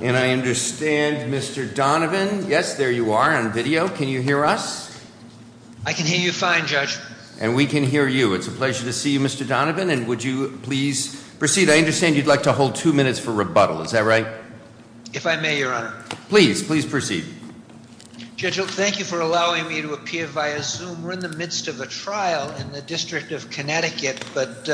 and I understand Mr. Donovan. Yes, there you are on video. Can you hear us? I can hear you fine, Judge. And we can hear you. It's a pleasure to see you, Mr. Donovan. And would you please proceed? I understand you'd like to hold two minutes for rebuttal, is that right? If I may, Your Honor. Please, please proceed. Judge, thank you for allowing me to appear via Zoom. We're in the midst of a trial in the District of Connecticut, but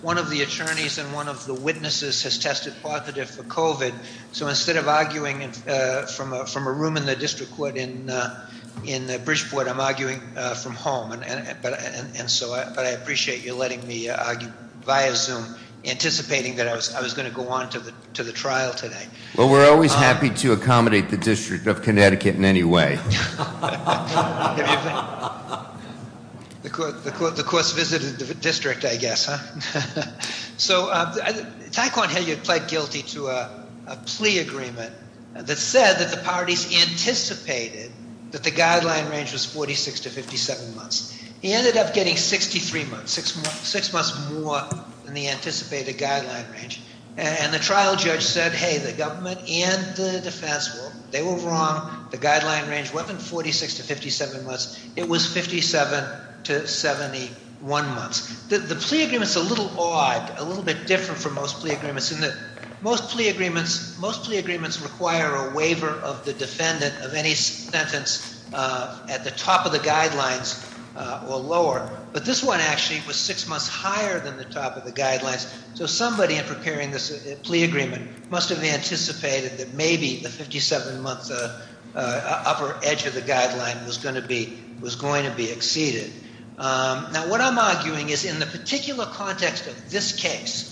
one of the attorneys and one of the witnesses has tested positive for COVID. So instead of arguing from a room in the district court in Bridgeport, I'm arguing from home. And so I appreciate you letting me argue via Zoom, anticipating that I was going to go on to the trial today. Well, we're always happy to accommodate the District of Connecticut in any way. The court's visited the district, I guess, huh? So Taequann Hilliard pled guilty to a plea agreement that said that the parties anticipated that the guideline range was 46 to 57 months. He ended up getting 63 months, six months more than the anticipated guideline range. And the trial judge said, hey, the government and the defense, they were wrong. The guideline range wasn't 46 to 57 months. It was 57 to 71 months. The plea agreement's a little odd, a little bit different from most plea agreements in that most plea agreements require a waiver of the defendant of any sentence at the top of the guidelines or lower. But this one actually was six months higher than the top of the guidelines. So somebody in preparing this plea agreement must have anticipated that maybe the 57-month upper edge of the guideline was going to be exceeded. Now, what I'm arguing is in the particular context of this case,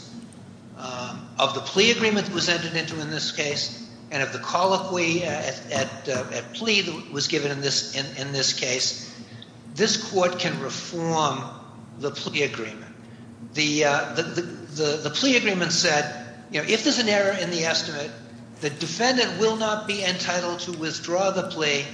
of the plea agreement that was entered into in this case, and of the colloquy at plea that was given in this case, this court can reform the plea agreement. The plea agreement said, if there's an error in the estimate, the defendant will not be entitled to withdraw the plea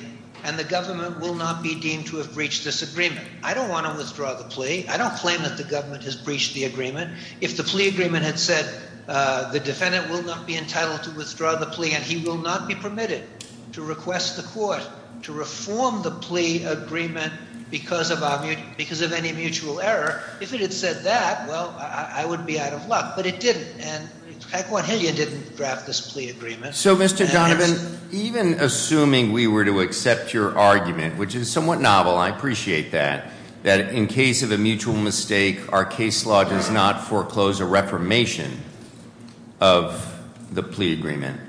and the government will not be deemed to have breached this agreement. I don't want to withdraw the plea. I don't claim that the government has breached the agreement. If the plea agreement had said, the defendant will not be entitled to withdraw the plea and he will not be permitted to request the court to reform the plea agreement because of any mutual error, if it had said that, well, I would be out of luck. But it didn't. And Pacwan-Hillian didn't draft this plea agreement. So, Mr. Donovan, even assuming we were to accept your argument, which is somewhat novel, I appreciate that, that in case of a mutual mistake, our case law does not foreclose a reformation of the plea agreement.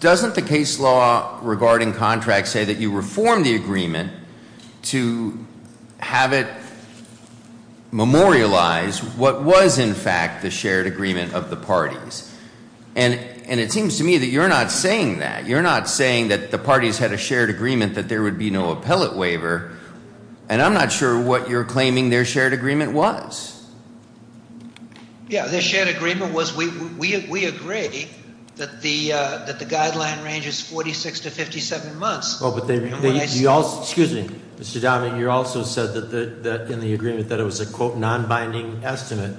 Doesn't the case law regarding contracts say that you reform the agreement to have it memorialize what was, in fact, the shared agreement of the parties? And it seems to me that you're not saying that. You're not saying that the parties had a shared agreement that there would be no appellate waiver, and I'm not sure what you're claiming their shared agreement was. Yeah, their shared agreement was we agreed that the guideline range is 46 to 57 months. Oh, but you also, excuse me, Mr. Donovan, you also said that in the agreement that it was a, quote, non-binding estimate.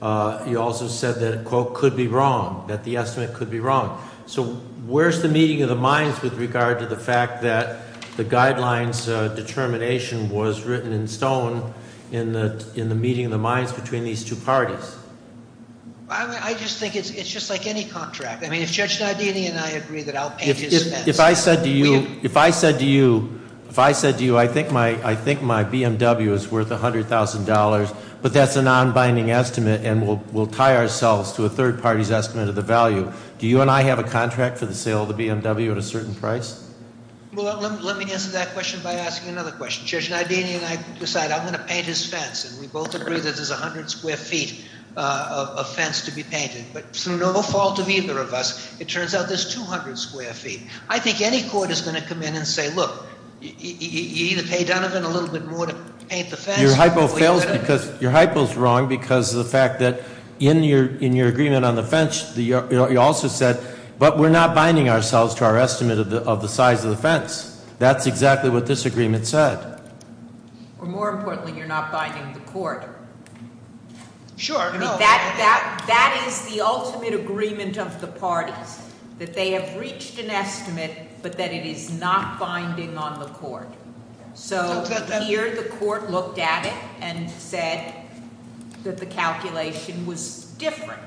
You also said that, quote, could be wrong, that the estimate could be wrong. So, where's the meeting of the minds with regard to the fact that the guidelines determination was written in stone in the meeting of the minds between these two parties? I just think it's just like any contract. I mean, if Judge Nadiani and I agree that outpages- If I said to you, I think my BMW is worth $100,000, but that's a non-binding estimate, and we'll tie ourselves to a third party's estimate of the value. Do you and I have a contract for the sale of the BMW at a certain price? Well, let me answer that question by asking another question. Judge Nadiani and I decide I'm going to paint his fence, and we both agree that there's 100 square feet of fence to be painted. But through no fault of either of us, it turns out there's 200 square feet. I think any court is going to come in and say, look, you either pay Donovan a little bit more to paint the fence- Your hypo is wrong because of the fact that in your agreement on the fence, you also said, but we're not binding ourselves to our estimate of the size of the fence. That's exactly what this agreement said. More importantly, you're not binding the court. Sure. That is the ultimate agreement of the parties, that they have reached an estimate, but that it is not binding on the court. So here the court looked at it and said that the calculation was different.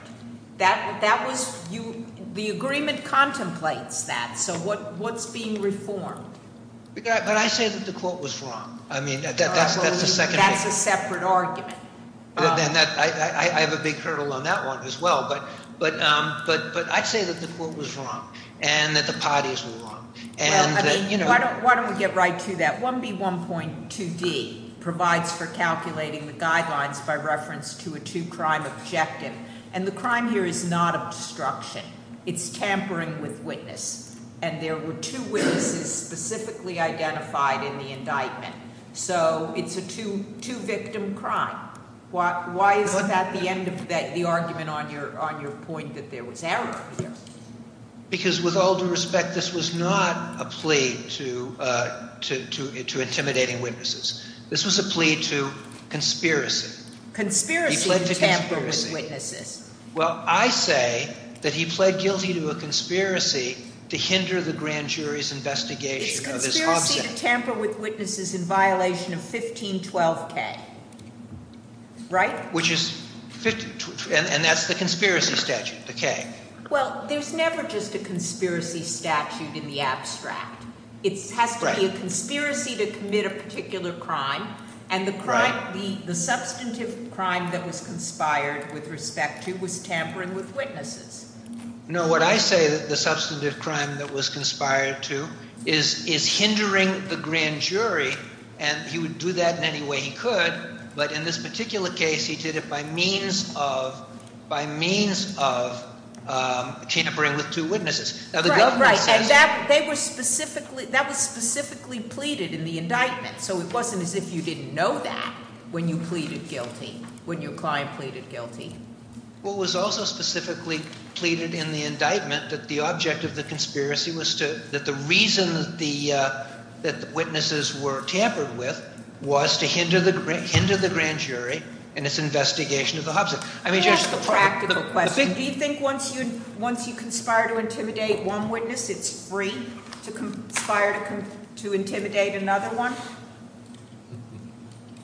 The agreement contemplates that. So what's being reformed? But I say that the court was wrong. That's a separate argument. I have a big hurdle on that one as well. But I'd say that the court was wrong and that the parties were wrong. Why don't we get right to that? 1B1.2D provides for calculating the guidelines by reference to a two-crime objective. And the crime here is not of destruction. It's tampering with witness. And there were two witnesses specifically identified in the indictment. So it's a two-victim crime. Why is that the end of the argument on your point that there was error here? Because with all due respect, this was not a plea to intimidating witnesses. This was a plea to conspiracy. Conspiracy to tamper with witnesses. Well, I say that he pled guilty to a conspiracy to hinder the grand jury's investigation of his hobby. It's conspiracy to tamper with witnesses in violation of 1512K. Right? And that's the conspiracy statute, the K. Well, there's never just a conspiracy statute in the abstract. It has to be a conspiracy to commit a particular crime. And the crime, the substantive crime that was conspired with respect to was tampering with witnesses. No, what I say that the substantive crime that was conspired to is hindering the grand jury. And he would do that in any way he could. But in this particular case, he did it by means of tampering with two witnesses. Right, right. And that was specifically pleaded in the indictment. So it wasn't as if you didn't know that when you pleaded guilty, when your client pleaded guilty. Well, it was also specifically pleaded in the indictment that the object of the conspiracy was to – into the grand jury and its investigation of the hobbyist. Just a practical question. Do you think once you conspire to intimidate one witness, it's free to conspire to intimidate another one?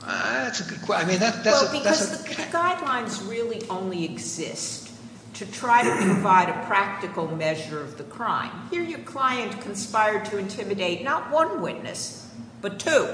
That's a good question. Well, because the guidelines really only exist to try to provide a practical measure of the crime. Here your client conspired to intimidate not one witness, but two.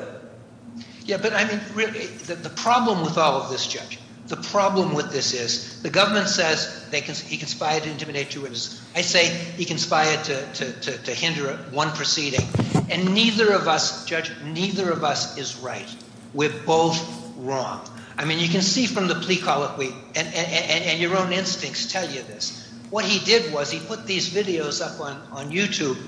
Yeah, but I mean, the problem with all of this, Judge, the problem with this is the government says he conspired to intimidate two witnesses. I say he conspired to hinder one proceeding. And neither of us, Judge, neither of us is right. We're both wrong. I mean, you can see from the plea colloquy and your own instincts tell you this. What he did was he put these videos up on YouTube,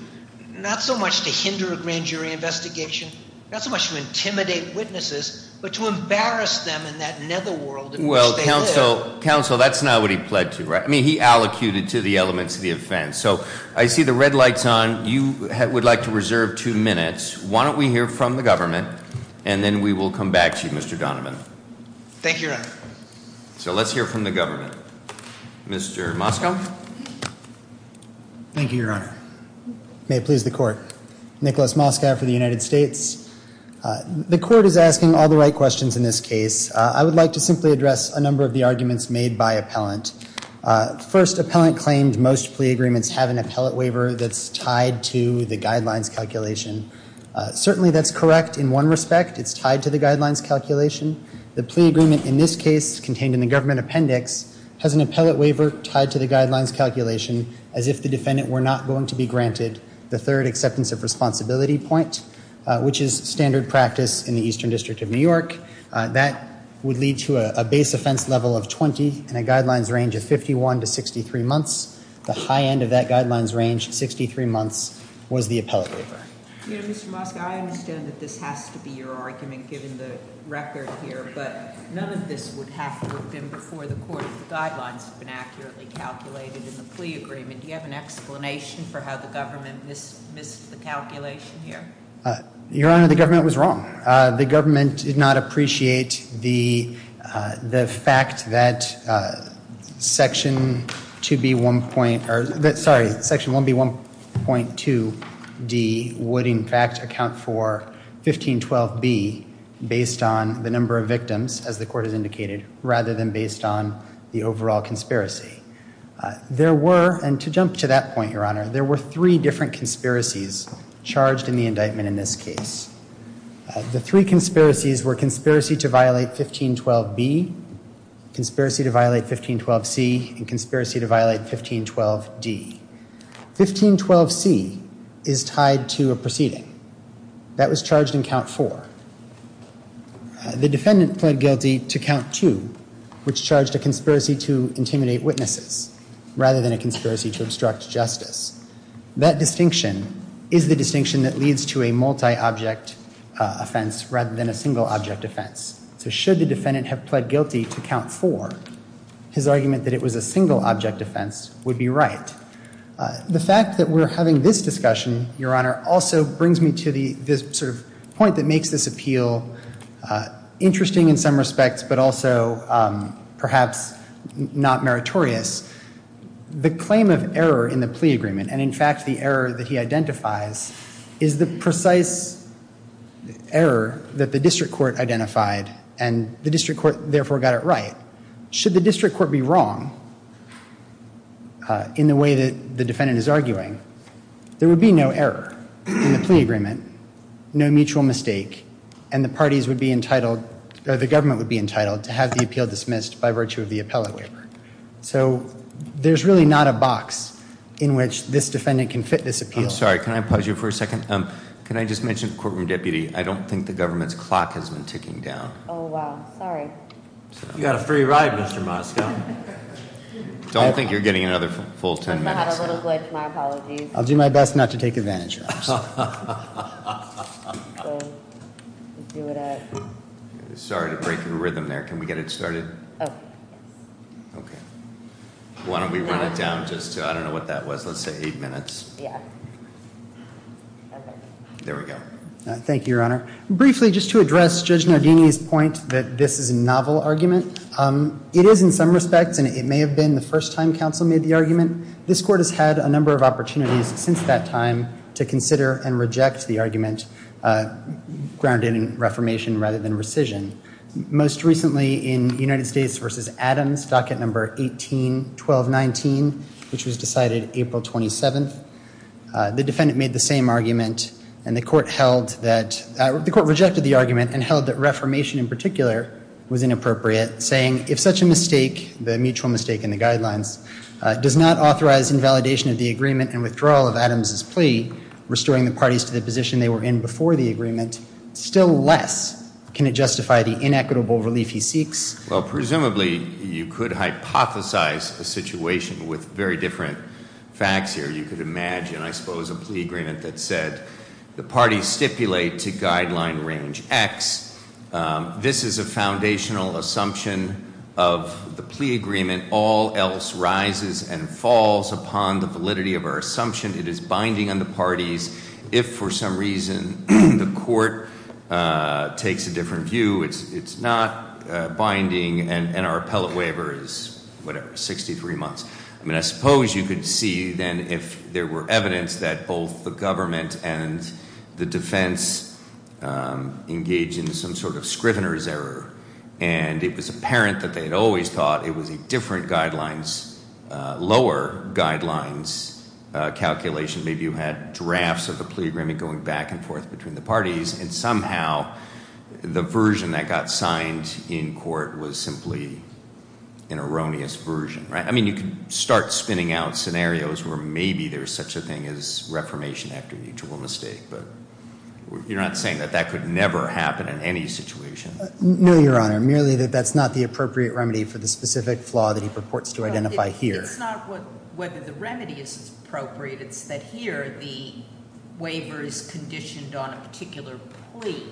not so much to hinder a grand jury investigation, not so much to intimidate witnesses, but to embarrass them in that netherworld in which they live. Well, counsel, counsel, that's not what he pled to, right? I mean, he allocated to the elements of the offense. So I see the red light's on. You would like to reserve two minutes. Why don't we hear from the government, and then we will come back to you, Mr. Donovan. Thank you, Your Honor. So let's hear from the government. Thank you, Your Honor. May it please the Court. Nicholas Moskow for the United States. The Court is asking all the right questions in this case. I would like to simply address a number of the arguments made by appellant. First, appellant claimed most plea agreements have an appellate waiver that's tied to the guidelines calculation. Certainly that's correct in one respect. It's tied to the guidelines calculation. The plea agreement in this case contained in the government appendix has an appellate waiver tied to the guidelines calculation as if the defendant were not going to be granted the third acceptance of responsibility point, which is standard practice in the Eastern District of New York. That would lead to a base offense level of 20 and a guidelines range of 51 to 63 months. The high end of that guidelines range, 63 months, was the appellate waiver. You know, Mr. Moskow, I understand that this has to be your argument given the record here, but none of this would have to have been before the court if the guidelines had been accurately calculated in the plea agreement. Do you have an explanation for how the government missed the calculation here? Your Honor, the government was wrong. The government did not appreciate the fact that Section 1B1.2D would in fact account for 1512B based on the number of victims, as the court has indicated, rather than based on the overall conspiracy. There were, and to jump to that point, Your Honor, there were three different conspiracies charged in the indictment in this case. The three conspiracies were conspiracy to violate 1512B, conspiracy to violate 1512C, and conspiracy to violate 1512D. 1512C is tied to a proceeding. That was charged in count four. The defendant pled guilty to count two, which charged a conspiracy to intimidate witnesses rather than a conspiracy to obstruct justice. That distinction is the distinction that leads to a multi-object offense rather than a single-object offense. So should the defendant have pled guilty to count four, his argument that it was a single-object offense would be right. The fact that we're having this discussion, Your Honor, also brings me to this point that makes this appeal interesting in some respects, but also perhaps not meritorious. The claim of error in the plea agreement, and in fact the error that he identifies, is the precise error that the district court identified, and the district court therefore got it right. Should the district court be wrong in the way that the defendant is arguing, there would be no error in the plea agreement, no mutual mistake, and the government would be entitled to have the appeal dismissed by virtue of the appellate waiver. So there's really not a box in which this defendant can fit this appeal. I'm sorry. Can I pause you for a second? Can I just mention, courtroom deputy, I don't think the government's clock has been ticking down. Oh, wow. Sorry. You got a free ride, Mr. Moskow. Don't think you're getting another full ten minutes. I have a little glitch. My apologies. I'll do my best not to take advantage of it. Sorry to break your rhythm there. Can we get it started? Okay. Why don't we run it down just to, I don't know what that was, let's say eight minutes. Yeah. There we go. Thank you, Your Honor. Briefly, just to address Judge Nardini's point that this is a novel argument, it is in some respects, and it may have been the first time counsel made the argument, this court has had a number of opportunities since that time to consider and reject the argument grounded in reformation rather than rescission. Most recently in United States v. Adams, docket number 181219, which was decided April 27th, the defendant made the same argument and the court held that, the court rejected the argument and held that reformation in particular was inappropriate, saying, if such a mistake, the mutual mistake in the guidelines, does not authorize invalidation of the agreement and withdrawal of Adams' plea, restoring the parties to the position they were in before the agreement, still less can it justify the inequitable relief he seeks? Well, presumably you could hypothesize a situation with very different facts here. You could imagine, I suppose, a plea agreement that said, the parties stipulate to guideline range X. This is a foundational assumption of the plea agreement. All else rises and falls upon the validity of our assumption. It is binding on the parties. If for some reason the court takes a different view, it's not binding, and our appellate waiver is, whatever, 63 months. I mean, I suppose you could see then if there were evidence that both the government and the defense engaged in some sort of scrivener's error, and it was apparent that they had always thought it was a different guidelines, lower guidelines calculation. Maybe you had drafts of the plea agreement going back and forth between the parties, and somehow the version that got signed in court was simply an erroneous version. I mean, you can start spinning out scenarios where maybe there's such a thing as reformation after mutual mistake, but you're not saying that that could never happen in any situation. No, Your Honor, merely that that's not the appropriate remedy for the specific flaw that he purports to identify here. It's not whether the remedy is appropriate. It's that here the waiver is conditioned on a particular plea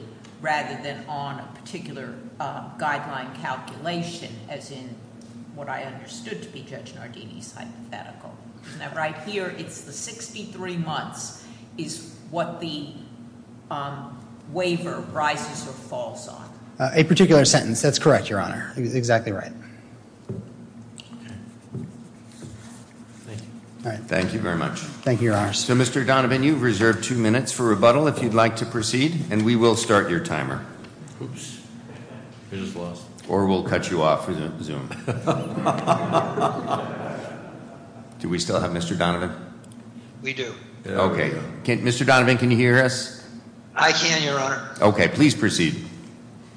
rather than on a particular guideline calculation, as in what I understood to be Judge Nardini's hypothetical, and that right here it's the 63 months is what the waiver rises or falls on. A particular sentence. That's correct, Your Honor. You're exactly right. Thank you. Thank you very much. Thank you, Your Honor. So, Mr. Donovan, you have reserved two minutes for rebuttal if you'd like to proceed, and we will start your timer. Oops. I just lost. Or we'll cut you off. Do we still have Mr. Donovan? We do. Okay. Mr. Donovan, can you hear us? I can, Your Honor. Okay. Please proceed.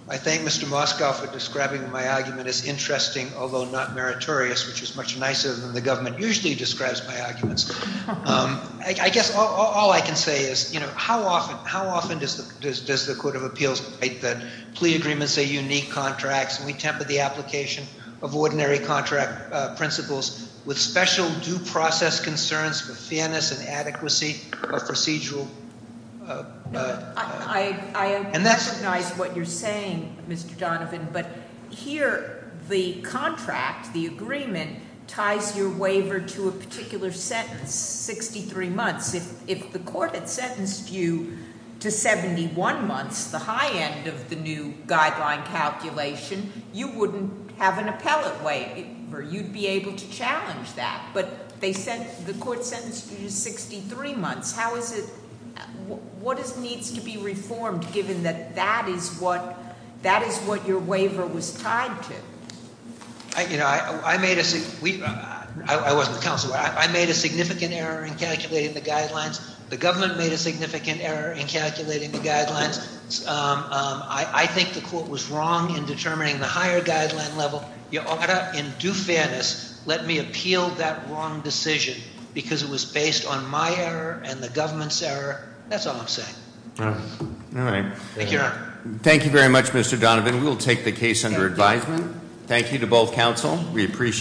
I thank Mr. Moskow for describing my argument as interesting, although not meritorious, which is much nicer than the government usually describes my arguments. I guess all I can say is, you know, how often does the Court of Appeals write that plea agreements are unique contracts, and we temper the application of ordinary contract principles with special due process concerns, with fairness and adequacy of procedural. I recognize what you're saying, Mr. Donovan, but here the contract, the agreement, ties your waiver to a particular sentence, 63 months. If the court had sentenced you to 71 months, the high end of the new guideline calculation, you wouldn't have an appellate waiver. You'd be able to challenge that, but the court sentenced you to 63 months. What needs to be reformed, given that that is what your waiver was tied to? You know, I made a significant error in calculating the guidelines. The government made a significant error in calculating the guidelines. I think the court was wrong in determining the higher guideline level. Your Honor, in due fairness, let me appeal that wrong decision, because it was based on my error and the government's error. That's all I'm saying. All right. Thank you, Your Honor. Thank you very much, Mr. Donovan. We will take the case under advisement. Thank you to both counsel. We appreciate it.